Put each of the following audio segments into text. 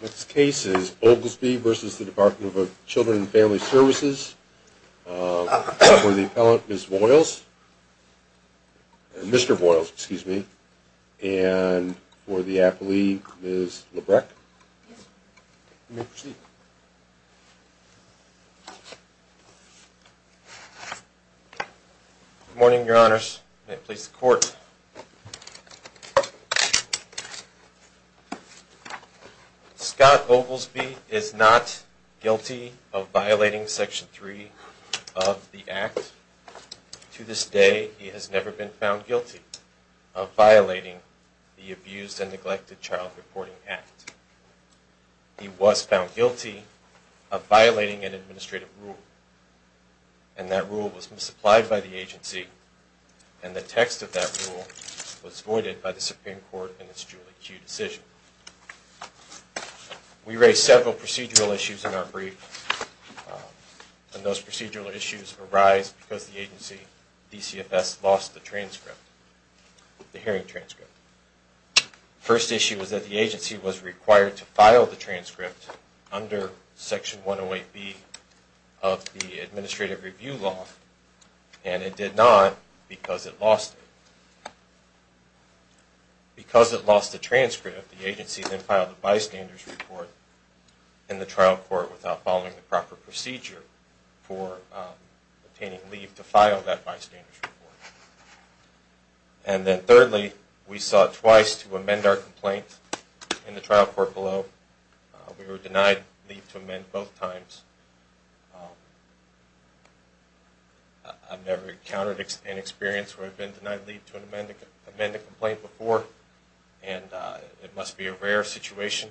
This case is Oglesby v. The Department of Children and Family Services. For the appellant, Ms. Boyles. Mr. Boyles, excuse me. And for the appellee, Ms. Lebrecht. You may proceed. Good morning, Your Honors. May it please the Court. Scott Oglesby is not guilty of violating Section 3 of the Act. To this day, he has never been found guilty of violating the Abused and Neglected Child Reporting Act. He was found guilty of violating an administrative rule. And that rule was misapplied by the agency. And the text of that rule was voided by the Supreme Court in its Julie Q decision. We raised several procedural issues in our brief. And those procedural issues arise because the agency, DCFS, lost the transcript, the hearing transcript. The first issue was that the agency was required to file the transcript under Section 108B of the Administrative Review Law. And it did not because it lost it. Because it lost the transcript, the agency then filed a bystander's report in the trial court without following the proper procedure for obtaining leave to file that bystander's report. And then thirdly, we sought twice to amend our complaint in the trial court below. We were denied leave to amend both times. I've never encountered an experience where I've been denied leave to amend a complaint before. And it must be a rare situation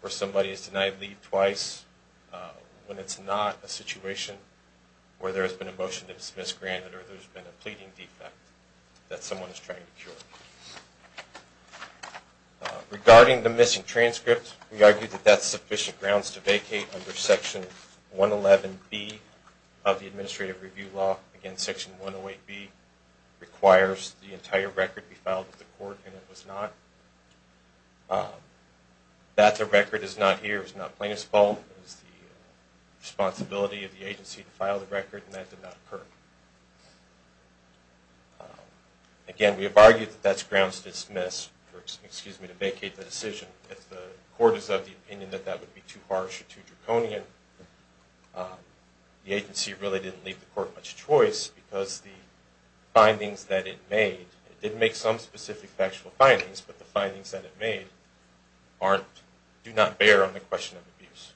where somebody is denied leave twice when it's not a situation where there has been a motion to dismiss granted or there's been a pleading defect that someone is trying to cure. Regarding the missing transcript, we argue that that's sufficient grounds to vacate under Section 111B of the Administrative Review Law. Again, Section 108B requires the entire record be filed with the court, and it was not. That the record is not here is not plaintiff's fault. It was the responsibility of the agency to file the record, and that did not occur. Again, we have argued that that's grounds to dismiss, or excuse me, to vacate the decision. If the court is of the opinion that that would be too harsh or too draconian, the agency really didn't leave the court much choice because the findings that it made, it did make some specific factual findings, but the findings that it made do not bear on the question of abuse.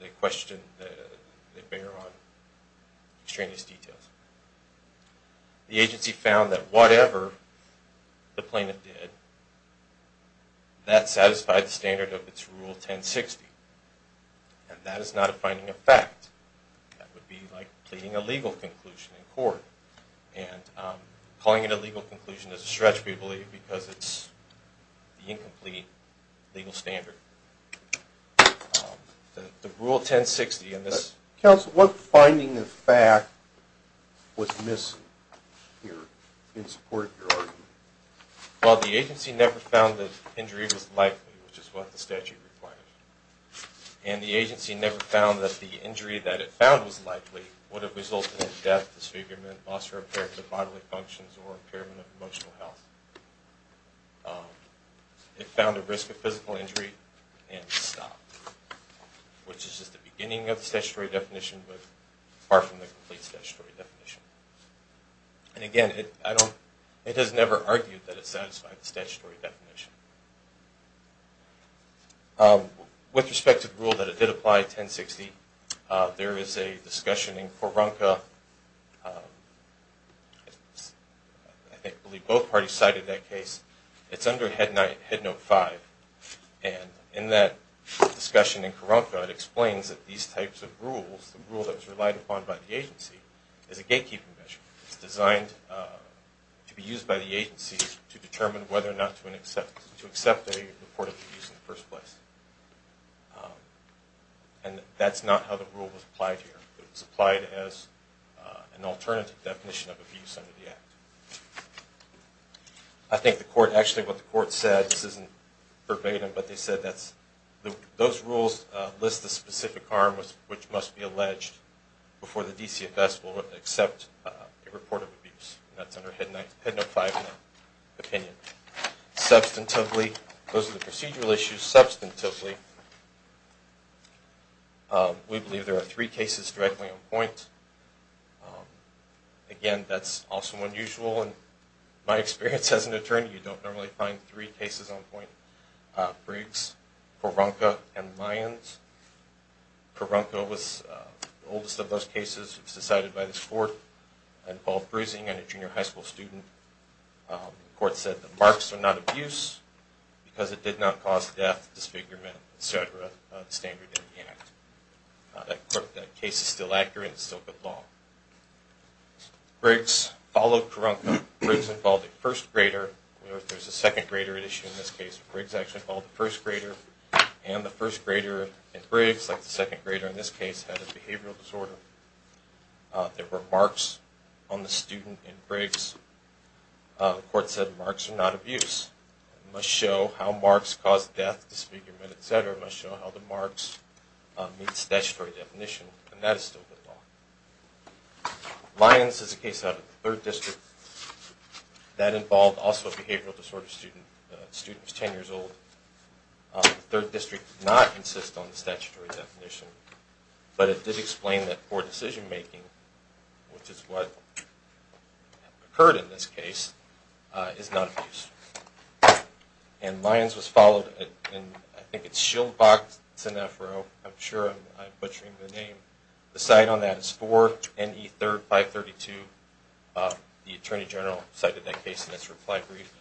They question, they bear on extraneous details. The agency found that whatever the plaintiff did, that satisfied the standard of its Rule 1060, and that is not a finding of fact. That would be like pleading a legal conclusion in court, and calling it a legal conclusion is a stretch, we believe, because it's the incomplete legal standard. The Rule 1060 in this... Counsel, what finding of fact was missing here in support of your argument? Well, the agency never found that injury was likely, which is what the statute requires. And the agency never found that the injury that it found was likely would have resulted in death, disfigurement, loss or repair to bodily functions or impairment of emotional health. It found a risk of physical injury and stopped, which is just the beginning of the statutory definition, but far from the complete statutory definition. And again, it has never argued that it satisfied the statutory definition. With respect to the Rule that it did apply, 1060, there is a discussion in Coronca. I believe both parties cited that case. It's under Head Note 5, and in that discussion in Coronca, it explains that these types of rules, the rule that was relied upon by the agency, is a gatekeeping measure. It's designed to be used by the agency to determine whether or not to accept a report of abuse in the first place. And that's not how the Rule was applied here. It was applied as an alternative definition of abuse under the Act. I think the Court, actually what the Court said, this isn't verbatim, but they said that those rules list the specific harm which must be alleged before the DCFS will accept a report of abuse. That's under Head Note 5 in that opinion. Substantively, those are the procedural issues. Substantively, we believe there are three cases directly on point. Again, that's also unusual in my experience as an attorney. You don't normally find three cases on point. Briggs, Coronca, and Lyons. Coronca was the oldest of those cases. It was decided by this Court. It involved bruising on a junior high school student. The Court said that marks are not abuse because it did not cause death, disfigurement, etc. That case is still accurate. It's still good law. Briggs followed Coronca. Briggs involved a first grader. There's a second grader issue in this case. Briggs actually involved a first grader. And the first grader in Briggs, like the second grader in this case, had a behavioral disorder. There were marks on the student in Briggs. The Court said marks are not abuse. It must show how marks cause death, disfigurement, etc. It must show how the marks meet statutory definition. And that is still good law. Lyons is a case out of the 3rd District. That involved also a behavioral disorder student. The student was 10 years old. The 3rd District did not insist on the statutory definition. But it did explain that poor decision making, which is what occurred in this case, is not abuse. And Lyons was followed in, I think it's Schildbach-Senefro. I'm sure I'm butchering the name. The cite on that is 4 NE 3rd 532. The Attorney General cited that case in its reply brief.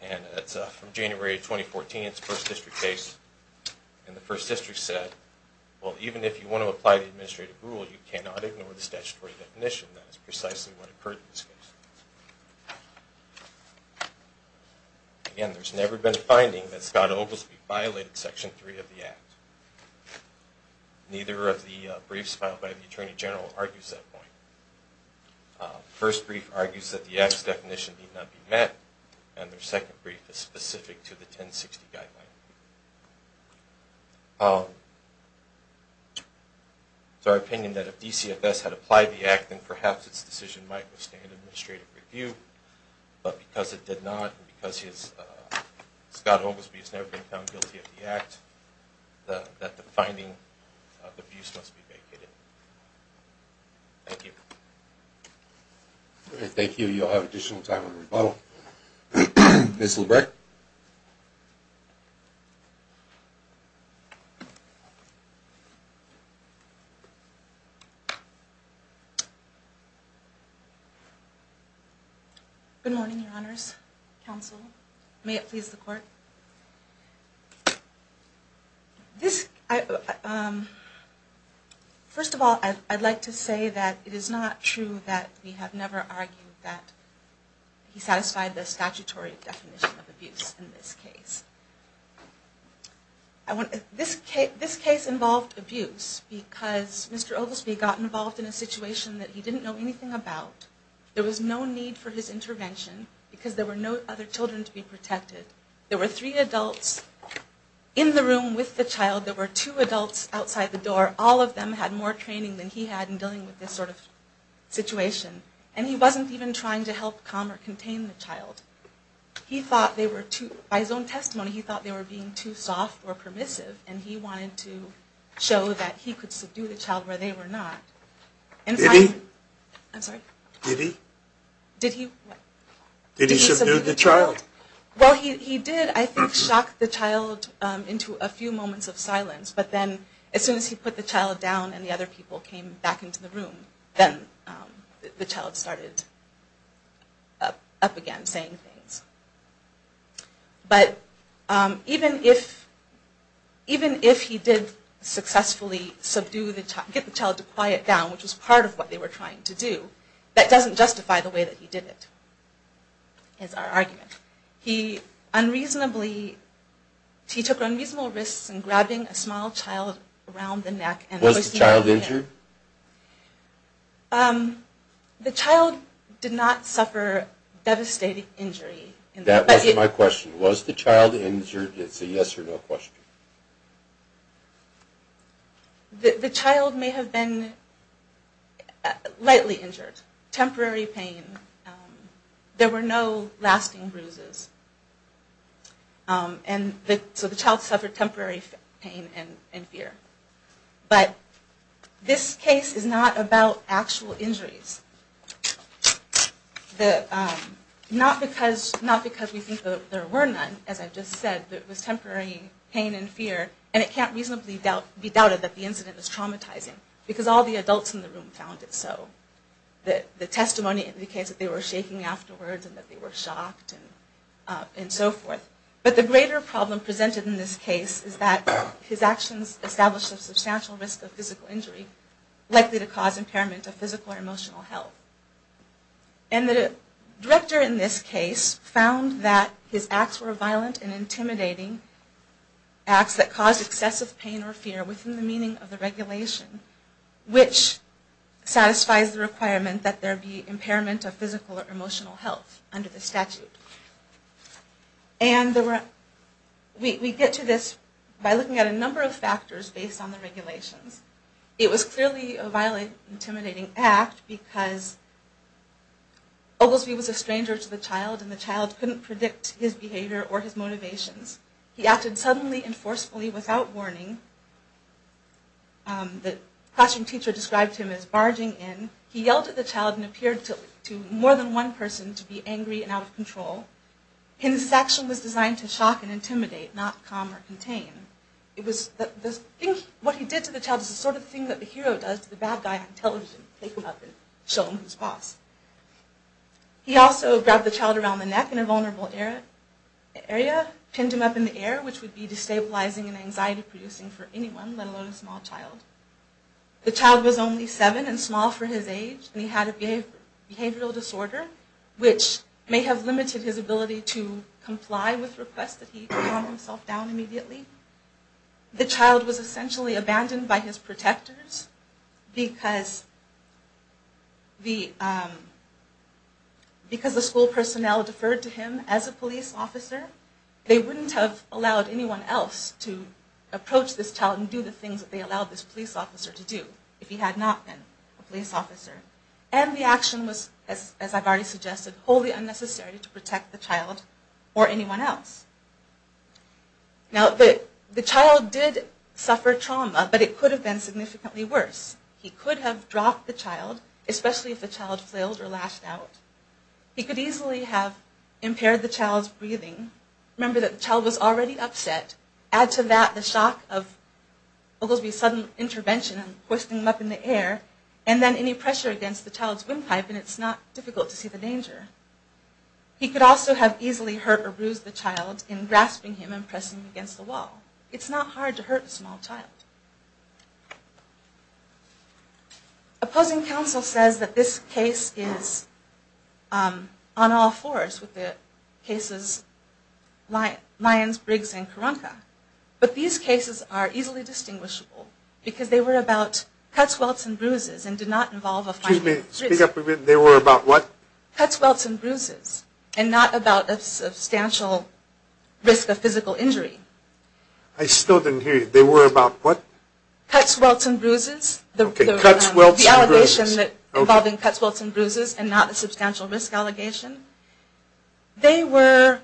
And it's from January 2014. It's a 1st District case. And the 1st District said, well, even if you want to apply the administrative rule, you cannot ignore the statutory definition. That is precisely what occurred in this case. Again, there's never been a finding that Scott Oglesby violated Section 3 of the Act. Neither of the briefs filed by the Attorney General argues that point. The first brief argues that the Act's definition need not be met. And their second brief is specific to the 1060 guideline. It's our opinion that if DCFS had applied the Act, then perhaps its decision might withstand administrative review. But because it did not, and because Scott Oglesby has never been found guilty of the Act, that the finding of abuse must be vacated. Thank you. Thank you. You'll have additional time in the rebuttal. Ms. LeBrecht. Good morning, Your Honors. Counsel. May it please the Court. First of all, I'd like to say that it is not true that we have never argued that he satisfied the statutory definition of abuse in this case. This case involved abuse because Mr. Oglesby got involved in a situation that he didn't know anything about. There was no need for his intervention because there were no other children to be protected. There were three adults in the room with the child. There were two adults outside the door. All of them had more training than he had in dealing with this sort of situation. And he wasn't even trying to help calm or contain the child. He thought they were too, by his own testimony, he thought they were being too soft or permissive. And he wanted to show that he could subdue the child where they were not. Did he? I'm sorry. Did he? Did he what? Did he subdue the child? Well, he did, I think, shock the child into a few moments of silence. But then as soon as he put the child down and the other people came back into the room, then the child started up again saying things. But even if he did successfully get the child to quiet down, which was part of what they were trying to do, that doesn't justify the way that he did it, is our argument. He unreasonably, he took unreasonable risks in grabbing a small child around the neck. Was the child injured? The child did not suffer devastating injury. That wasn't my question. Was the child injured? It's a yes or no question. The child may have been lightly injured. Temporary pain. There were no lasting bruises. So the child suffered temporary pain and fear. But this case is not about actual injuries. Not because we think that there were none, as I just said. It was temporary pain and fear, and it can't reasonably be doubted that the incident was traumatizing, because all the adults in the room found it so. The testimony indicates that they were shaking afterwards and that they were shocked and so forth. But the greater problem presented in this case is that his actions established a substantial risk of physical injury, likely to cause impairment of physical or emotional health. And the director in this case found that his acts were violent and intimidating, acts that caused excessive pain or fear within the meaning of the regulation, which satisfies the requirement that there be impairment of physical or emotional health under the statute. And we get to this by looking at a number of factors based on the regulations. It was clearly a violent, intimidating act because Oglesby was a stranger to the child, and the child couldn't predict his behavior or his motivations. He acted suddenly and forcefully without warning. The classroom teacher described him as barging in. He yelled at the child and appeared to more than one person to be angry and out of control. His action was designed to shock and intimidate, not calm or contain. What he did to the child is the sort of thing that the hero does to the bad guy on television, pick him up and show him who's boss. He also grabbed the child around the neck in a vulnerable area, pinned him up in the air, which would be destabilizing and anxiety-producing for anyone, let alone a small child. The child was only seven and small for his age, and he had a behavioral disorder, which may have limited his ability to comply with requests that he calm himself down immediately. The child was essentially abandoned by his protectors, because the school personnel deferred to him as a police officer. They wouldn't have allowed anyone else to approach this child and do the things that they allowed this police officer to do if he had not been a police officer. And the action was, as I've already suggested, wholly unnecessary to protect the child or anyone else. Now, the child did suffer trauma, but it could have been significantly worse. He could have dropped the child, especially if the child flailed or lashed out. He could easily have impaired the child's breathing. Remember that the child was already upset. Add to that the shock of what would be a sudden intervention and hoisting him up in the air, and then any pressure against the child's windpipe, and it's not difficult to see the danger. He could also have easily hurt or bruised the child in grasping him and pressing him against the wall. It's not hard to hurt a small child. Opposing counsel says that this case is on all fours with the cases Lyons, Briggs, and Karanka. But these cases are easily distinguishable because they were about cuts, welts, and bruises, and did not involve a finding of physical injury. Excuse me, speak up a bit. They were about what? Cuts, welts, and bruises, and not about a substantial risk of physical injury. I still didn't hear you. They were about what? Cuts, welts, and bruises. Okay, cuts, welts, and bruises. The allegation involving cuts, welts, and bruises, and not a substantial risk allegation. They were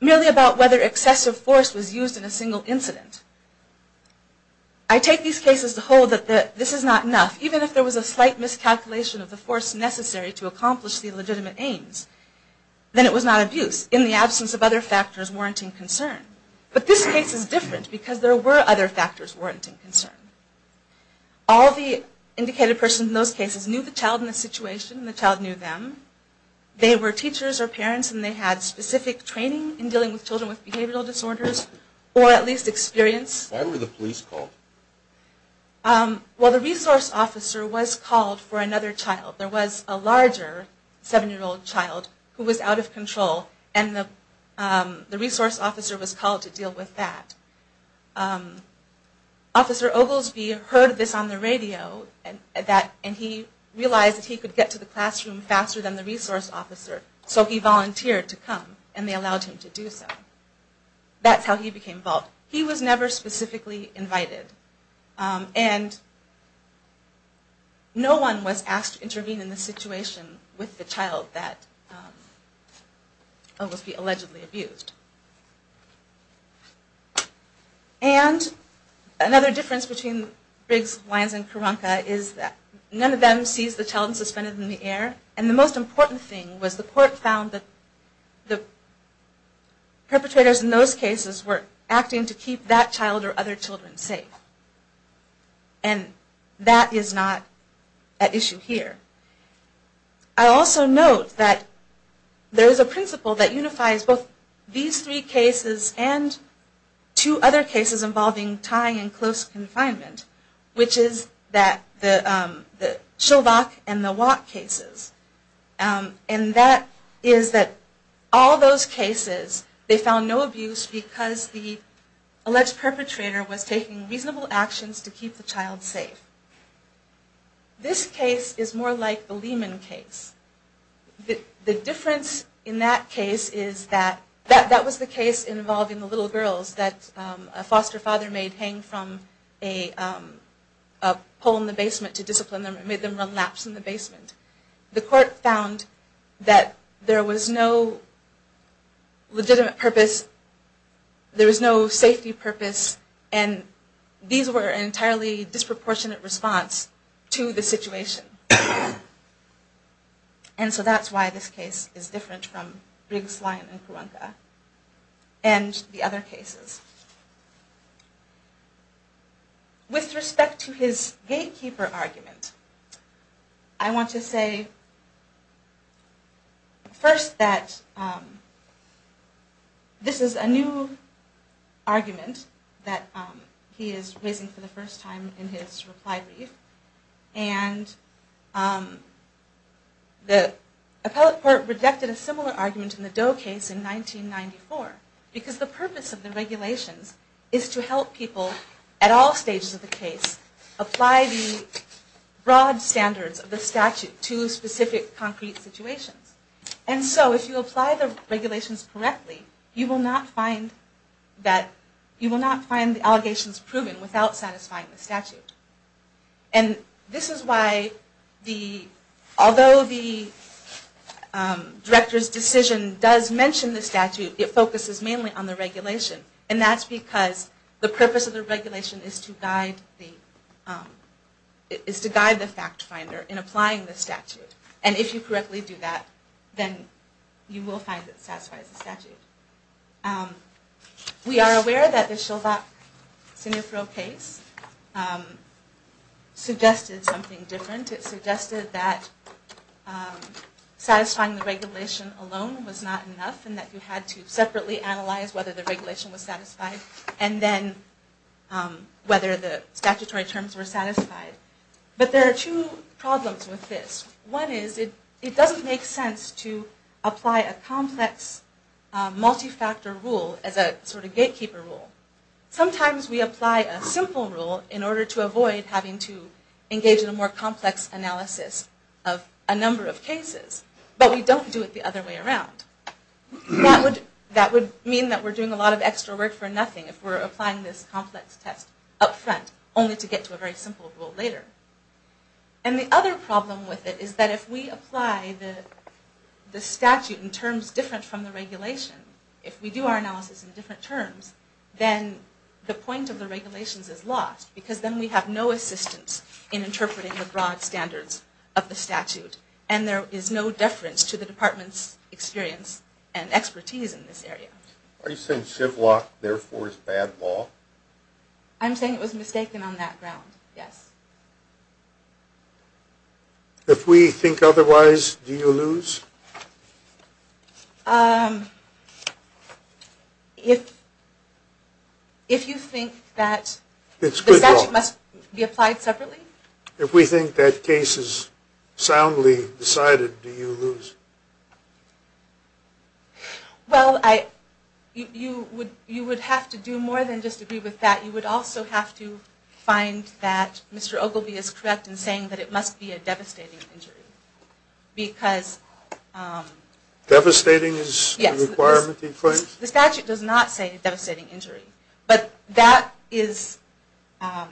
merely about whether excessive force was used in a single incident. I take these cases to hold that this is not enough. Even if there was a slight miscalculation of the force necessary to accomplish the legitimate aims, then it was not abuse in the absence of other factors warranting concern. But this case is different because there were other factors warranting concern. All the indicated persons in those cases knew the child and the situation, and the child knew them. They were teachers or parents, and they had specific training in dealing with children with behavioral disorders, or at least experience. Why were the police called? Well, the resource officer was called for another child. There was a larger seven-year-old child who was out of control, and the resource officer was called to deal with that. Officer Oglesby heard this on the radio, and he realized that he could get to the classroom faster than the resource officer, so he volunteered to come, and they allowed him to do so. That's how he became involved. He was never specifically invited, and no one was asked to intervene in the situation with the child that Oglesby allegedly abused. And another difference between Briggs, Lyons, and Karanka is that none of them sees the child suspended in the air, and the most important thing was the court found that the perpetrators in those cases were acting to keep that child or other children safe. And that is not at issue here. I also note that there is a principle that unifies both these three cases and two other cases involving tying in close confinement, which is the Chilvack and the Watt cases. And that is that all those cases, they found no abuse because the alleged perpetrator was taking reasonable actions to keep the child safe. This case is more like the Lehman case. The difference in that case is that that was the case involving the little girls that a foster father made hang from a pole in the basement to discipline them and made them run laps in the basement. The court found that there was no legitimate purpose, there was no safety purpose, and these were an entirely disproportionate response to the situation. And so that's why this case is different from Briggs, Lyons, and Karanka and the other cases. With respect to his gatekeeper argument, I want to say first that this is a new argument that he is raising for the first time in his reply brief. And the appellate court rejected a similar argument in the Doe case in 1994 because the purpose of the regulations is to help people at all stages of the case apply the broad standards of the statute to specific concrete situations. And so if you apply the regulations correctly, you will not find the allegations proven without satisfying the statute. And this is why, although the director's decision does mention the statute, it focuses mainly on the regulation. And that's because the purpose of the regulation is to guide the fact finder in applying the statute. And if you correctly do that, then you will find that it satisfies the statute. We are aware that the Schilbach-Sinifro case suggested something different. It suggested that satisfying the regulation alone was not enough and that you had to separately analyze whether the regulation was satisfied and then whether the statutory terms were satisfied. But there are two problems with this. One is it doesn't make sense to apply a complex multi-factor rule as a sort of gatekeeper rule. Sometimes we apply a simple rule in order to avoid having to engage in a more complex analysis of a number of cases. But we don't do it the other way around. That would mean that we're doing a lot of extra work for nothing if we're applying this complex test up front only to get to a very simple rule later. And the other problem with it is that if we apply the statute in terms different from the regulation, if we do our analysis in different terms, then the point of the regulations is lost because then we have no assistance in interpreting the broad standards of the statute. And there is no deference to the department's experience and expertise in this area. Are you saying Schilbach, therefore, is bad law? I'm saying it was mistaken on that ground, yes. If we think otherwise, do you lose? If you think that the statute must be applied separately? If we think that case is soundly decided, do you lose? Well, you would have to do more than just agree with that. You would also have to find that Mr. Ogilvie is correct in saying that it must be a devastating injury because... Devastating is the requirement he claims? Yes. The statute does not say devastating injury. But that is... How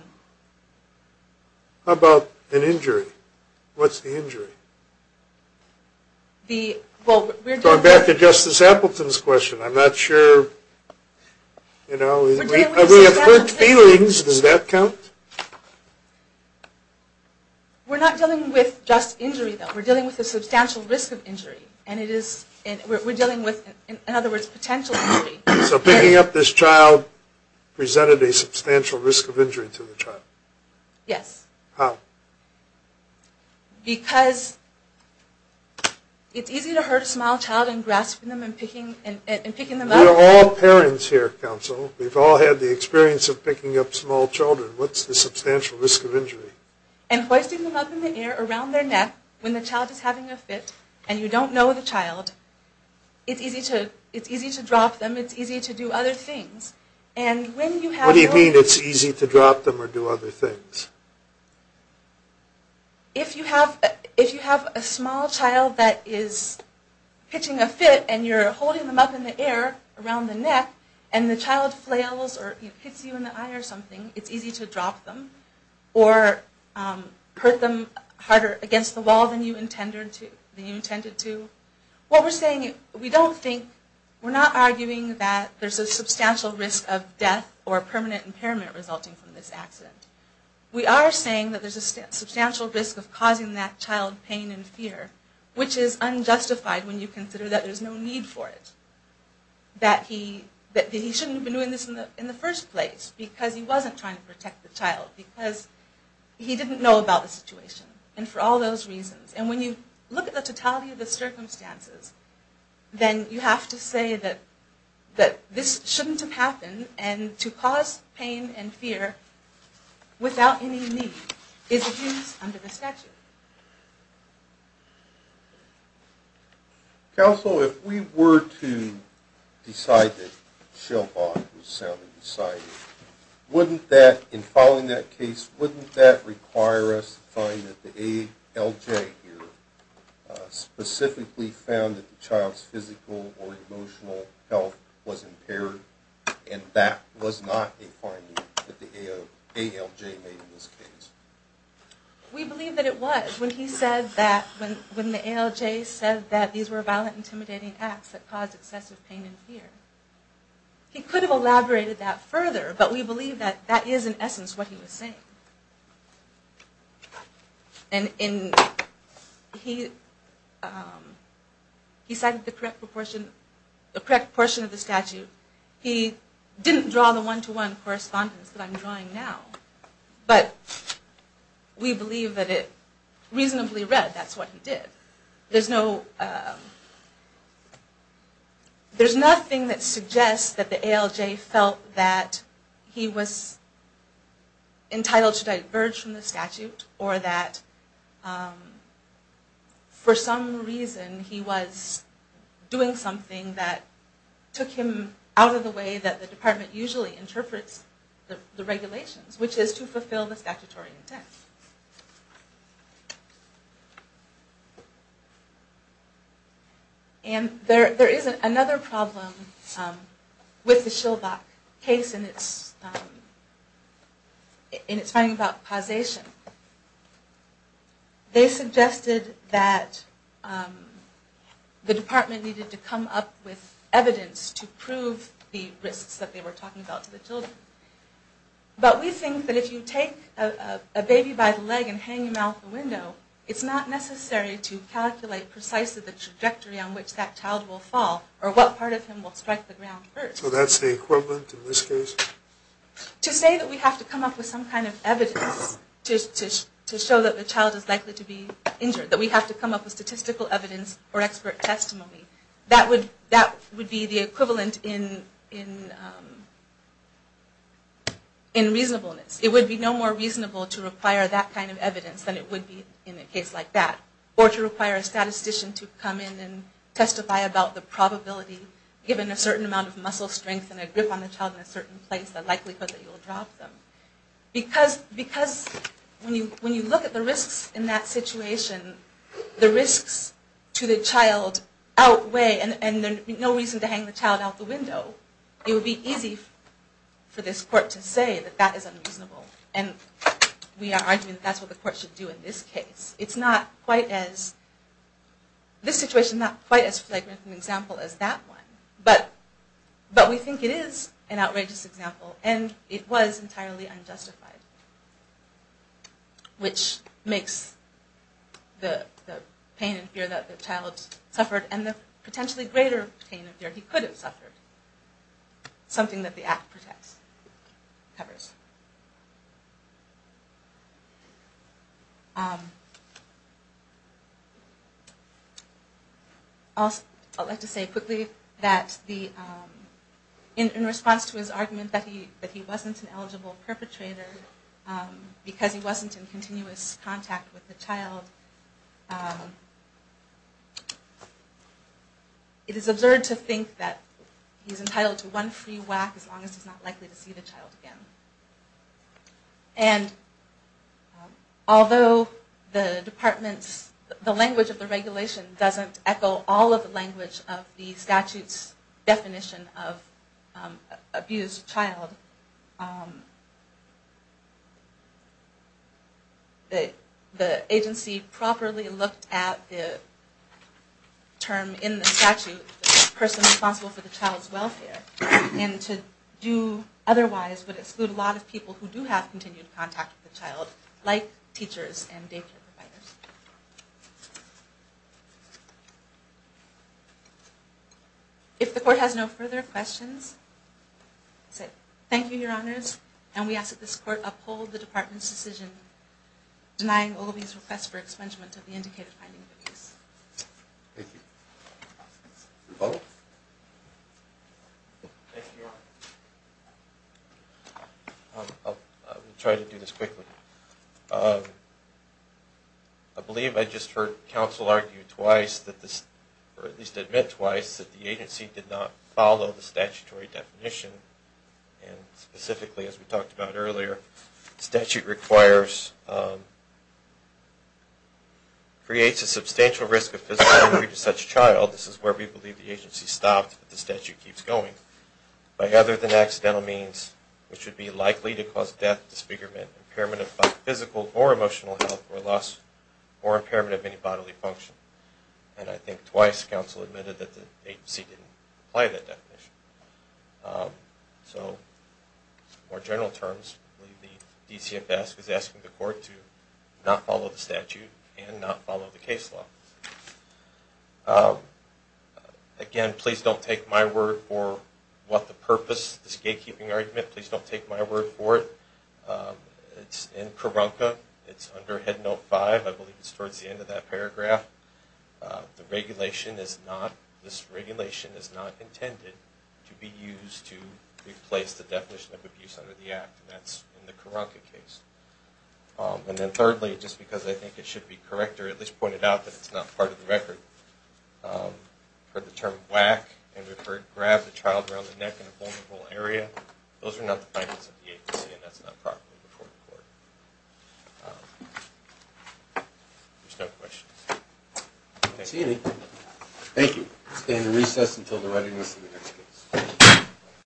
about an injury? What's the injury? Going back to Justice Appleton's question, I'm not sure... We have hurt feelings. Does that count? We're not dealing with just injury, though. We're dealing with a substantial risk of injury. We're dealing with, in other words, potential injury. So picking up this child presented a substantial risk of injury to the child? Yes. How? Because it's easy to hurt a small child in grasping them and picking them up. We're all parents here, counsel. We've all had the experience of picking up small children. What's the substantial risk of injury? And hoisting them up in the air around their neck when the child is having a fit and you don't know the child. It's easy to drop them. It's easy to do other things. What do you mean it's easy to drop them or do other things? If you have a small child that is pitching a fit and you're holding them up in the air around the neck and the child flails or hits you in the eye or something, it's easy to drop them or hurt them harder against the wall than you intended to. What we're saying, we don't think... We're not arguing that there's a substantial risk of death or permanent impairment resulting from this accident. We are saying that there's a substantial risk of causing that child pain and fear, which is unjustified when you consider that there's no need for it. That he shouldn't have been doing this in the first place because he wasn't trying to protect the child. Because he didn't know about the situation and for all those reasons. And when you look at the totality of the circumstances, then you have to say that this shouldn't have happened and to cause pain and fear without any need is abuse under the statute. Counsel, if we were to decide that Shell Bond was soundly decided, wouldn't that, in following that case, wouldn't that require us to find that the ALJ here specifically found that the child's physical or emotional health was impaired and that was not a finding that the ALJ made in this case? We believe that it was when he said that, when the ALJ said that these were violent, intimidating acts that caused excessive pain and fear. He could have elaborated that further, but we believe that that is, in essence, what he was saying. And he cited the correct proportion of the statute. He didn't draw the one-to-one correspondence that I'm drawing now, but we believe that it reasonably read that's what he did. There's nothing that suggests that the ALJ felt that he was entitled to diverge from the statute or that, for some reason, he was doing something that took him out of the way that the department usually interprets the regulations, which is to fulfill the statutory intent. And there is another problem with the Schilbach case and it's finding about causation. They suggested that the department needed to come up with evidence to prove the risks that they were talking about to the children. But we think that if you take a baby birth and hang him out the window, it's not necessary to calculate precisely the trajectory on which that child will fall or what part of him will strike the ground first. So that's the equivalent in this case? To say that we have to come up with some kind of evidence to show that the child is likely to be injured, that we have to come up with statistical evidence or expert testimony, that would be the equivalent in reasonableness. It would be no more reasonable to require that kind of evidence than it would be in a case like that. Or to require a statistician to come in and testify about the probability, given a certain amount of muscle strength and a grip on the child in a certain place, the likelihood that you will drop them. Because when you look at the risks in that situation, the risks to the child outweigh and there would be no reason to hang the child out the window. So it would be easy for this court to say that that is unreasonable. And we are arguing that that's what the court should do in this case. It's not quite as, this situation is not quite as flagrant of an example as that one. But we think it is an outrageous example. And it was entirely unjustified. Which makes the pain and fear that the child suffered and the potentially greater pain and fear he could have suffered, something that the act protects, covers. I'd like to say quickly that in response to his argument that he wasn't an eligible perpetrator because he wasn't in continuous contact with the child, it is absurd to think that he's entitled to one free whack as long as he's not likely to see the child again. And although the department's, the language of the regulation doesn't echo all of the language of the statute's definition of abused child, the agency properly looked at the term in the statute, the person responsible for the child's welfare, and to do otherwise would exclude a lot of people who do have continued contact with the child, like teachers and daycare providers. If the court has no further questions, I say thank you, Your Honors. And we ask that this court uphold the department's decision denying Ogilvie's request for expungement of the indicated finding of abuse. Thank you. Thank you, Your Honor. I'll try to do this quickly. I believe I just heard counsel argue twice, or at least admit twice, that the agency did not follow the statutory definition, and specifically, as we talked about earlier, the statute requires, creates a substantial risk of physical injury to such a child, this is where we believe the agency stopped, but the statute keeps going, by other than accidental means, which would be likely to cause death, disfigurement, impairment of physical or emotional health or loss, or impairment of any bodily function. And I think twice counsel admitted that the agency didn't apply that definition. So, more general terms, the DCFS is asking the court to not follow the statute and not follow the case law. Again, please don't take my word for what the purpose of this gatekeeping argument, please don't take my word for it. It's in Karanka, it's under Head Note 5, I believe it's towards the end of that paragraph. The regulation is not, this regulation is not intended to be used to replace the definition of abuse under the Act, and that's in the Karanka case. And then thirdly, just because I think it should be corrected, or at least pointed out that it's not part of the record, for the term whack, and we've heard grab the child around the neck in a vulnerable area, those are not the findings of the agency, and that's not properly before the court. There's no questions. I don't see any. Thank you. We'll stay in the recess until the readiness of the next case.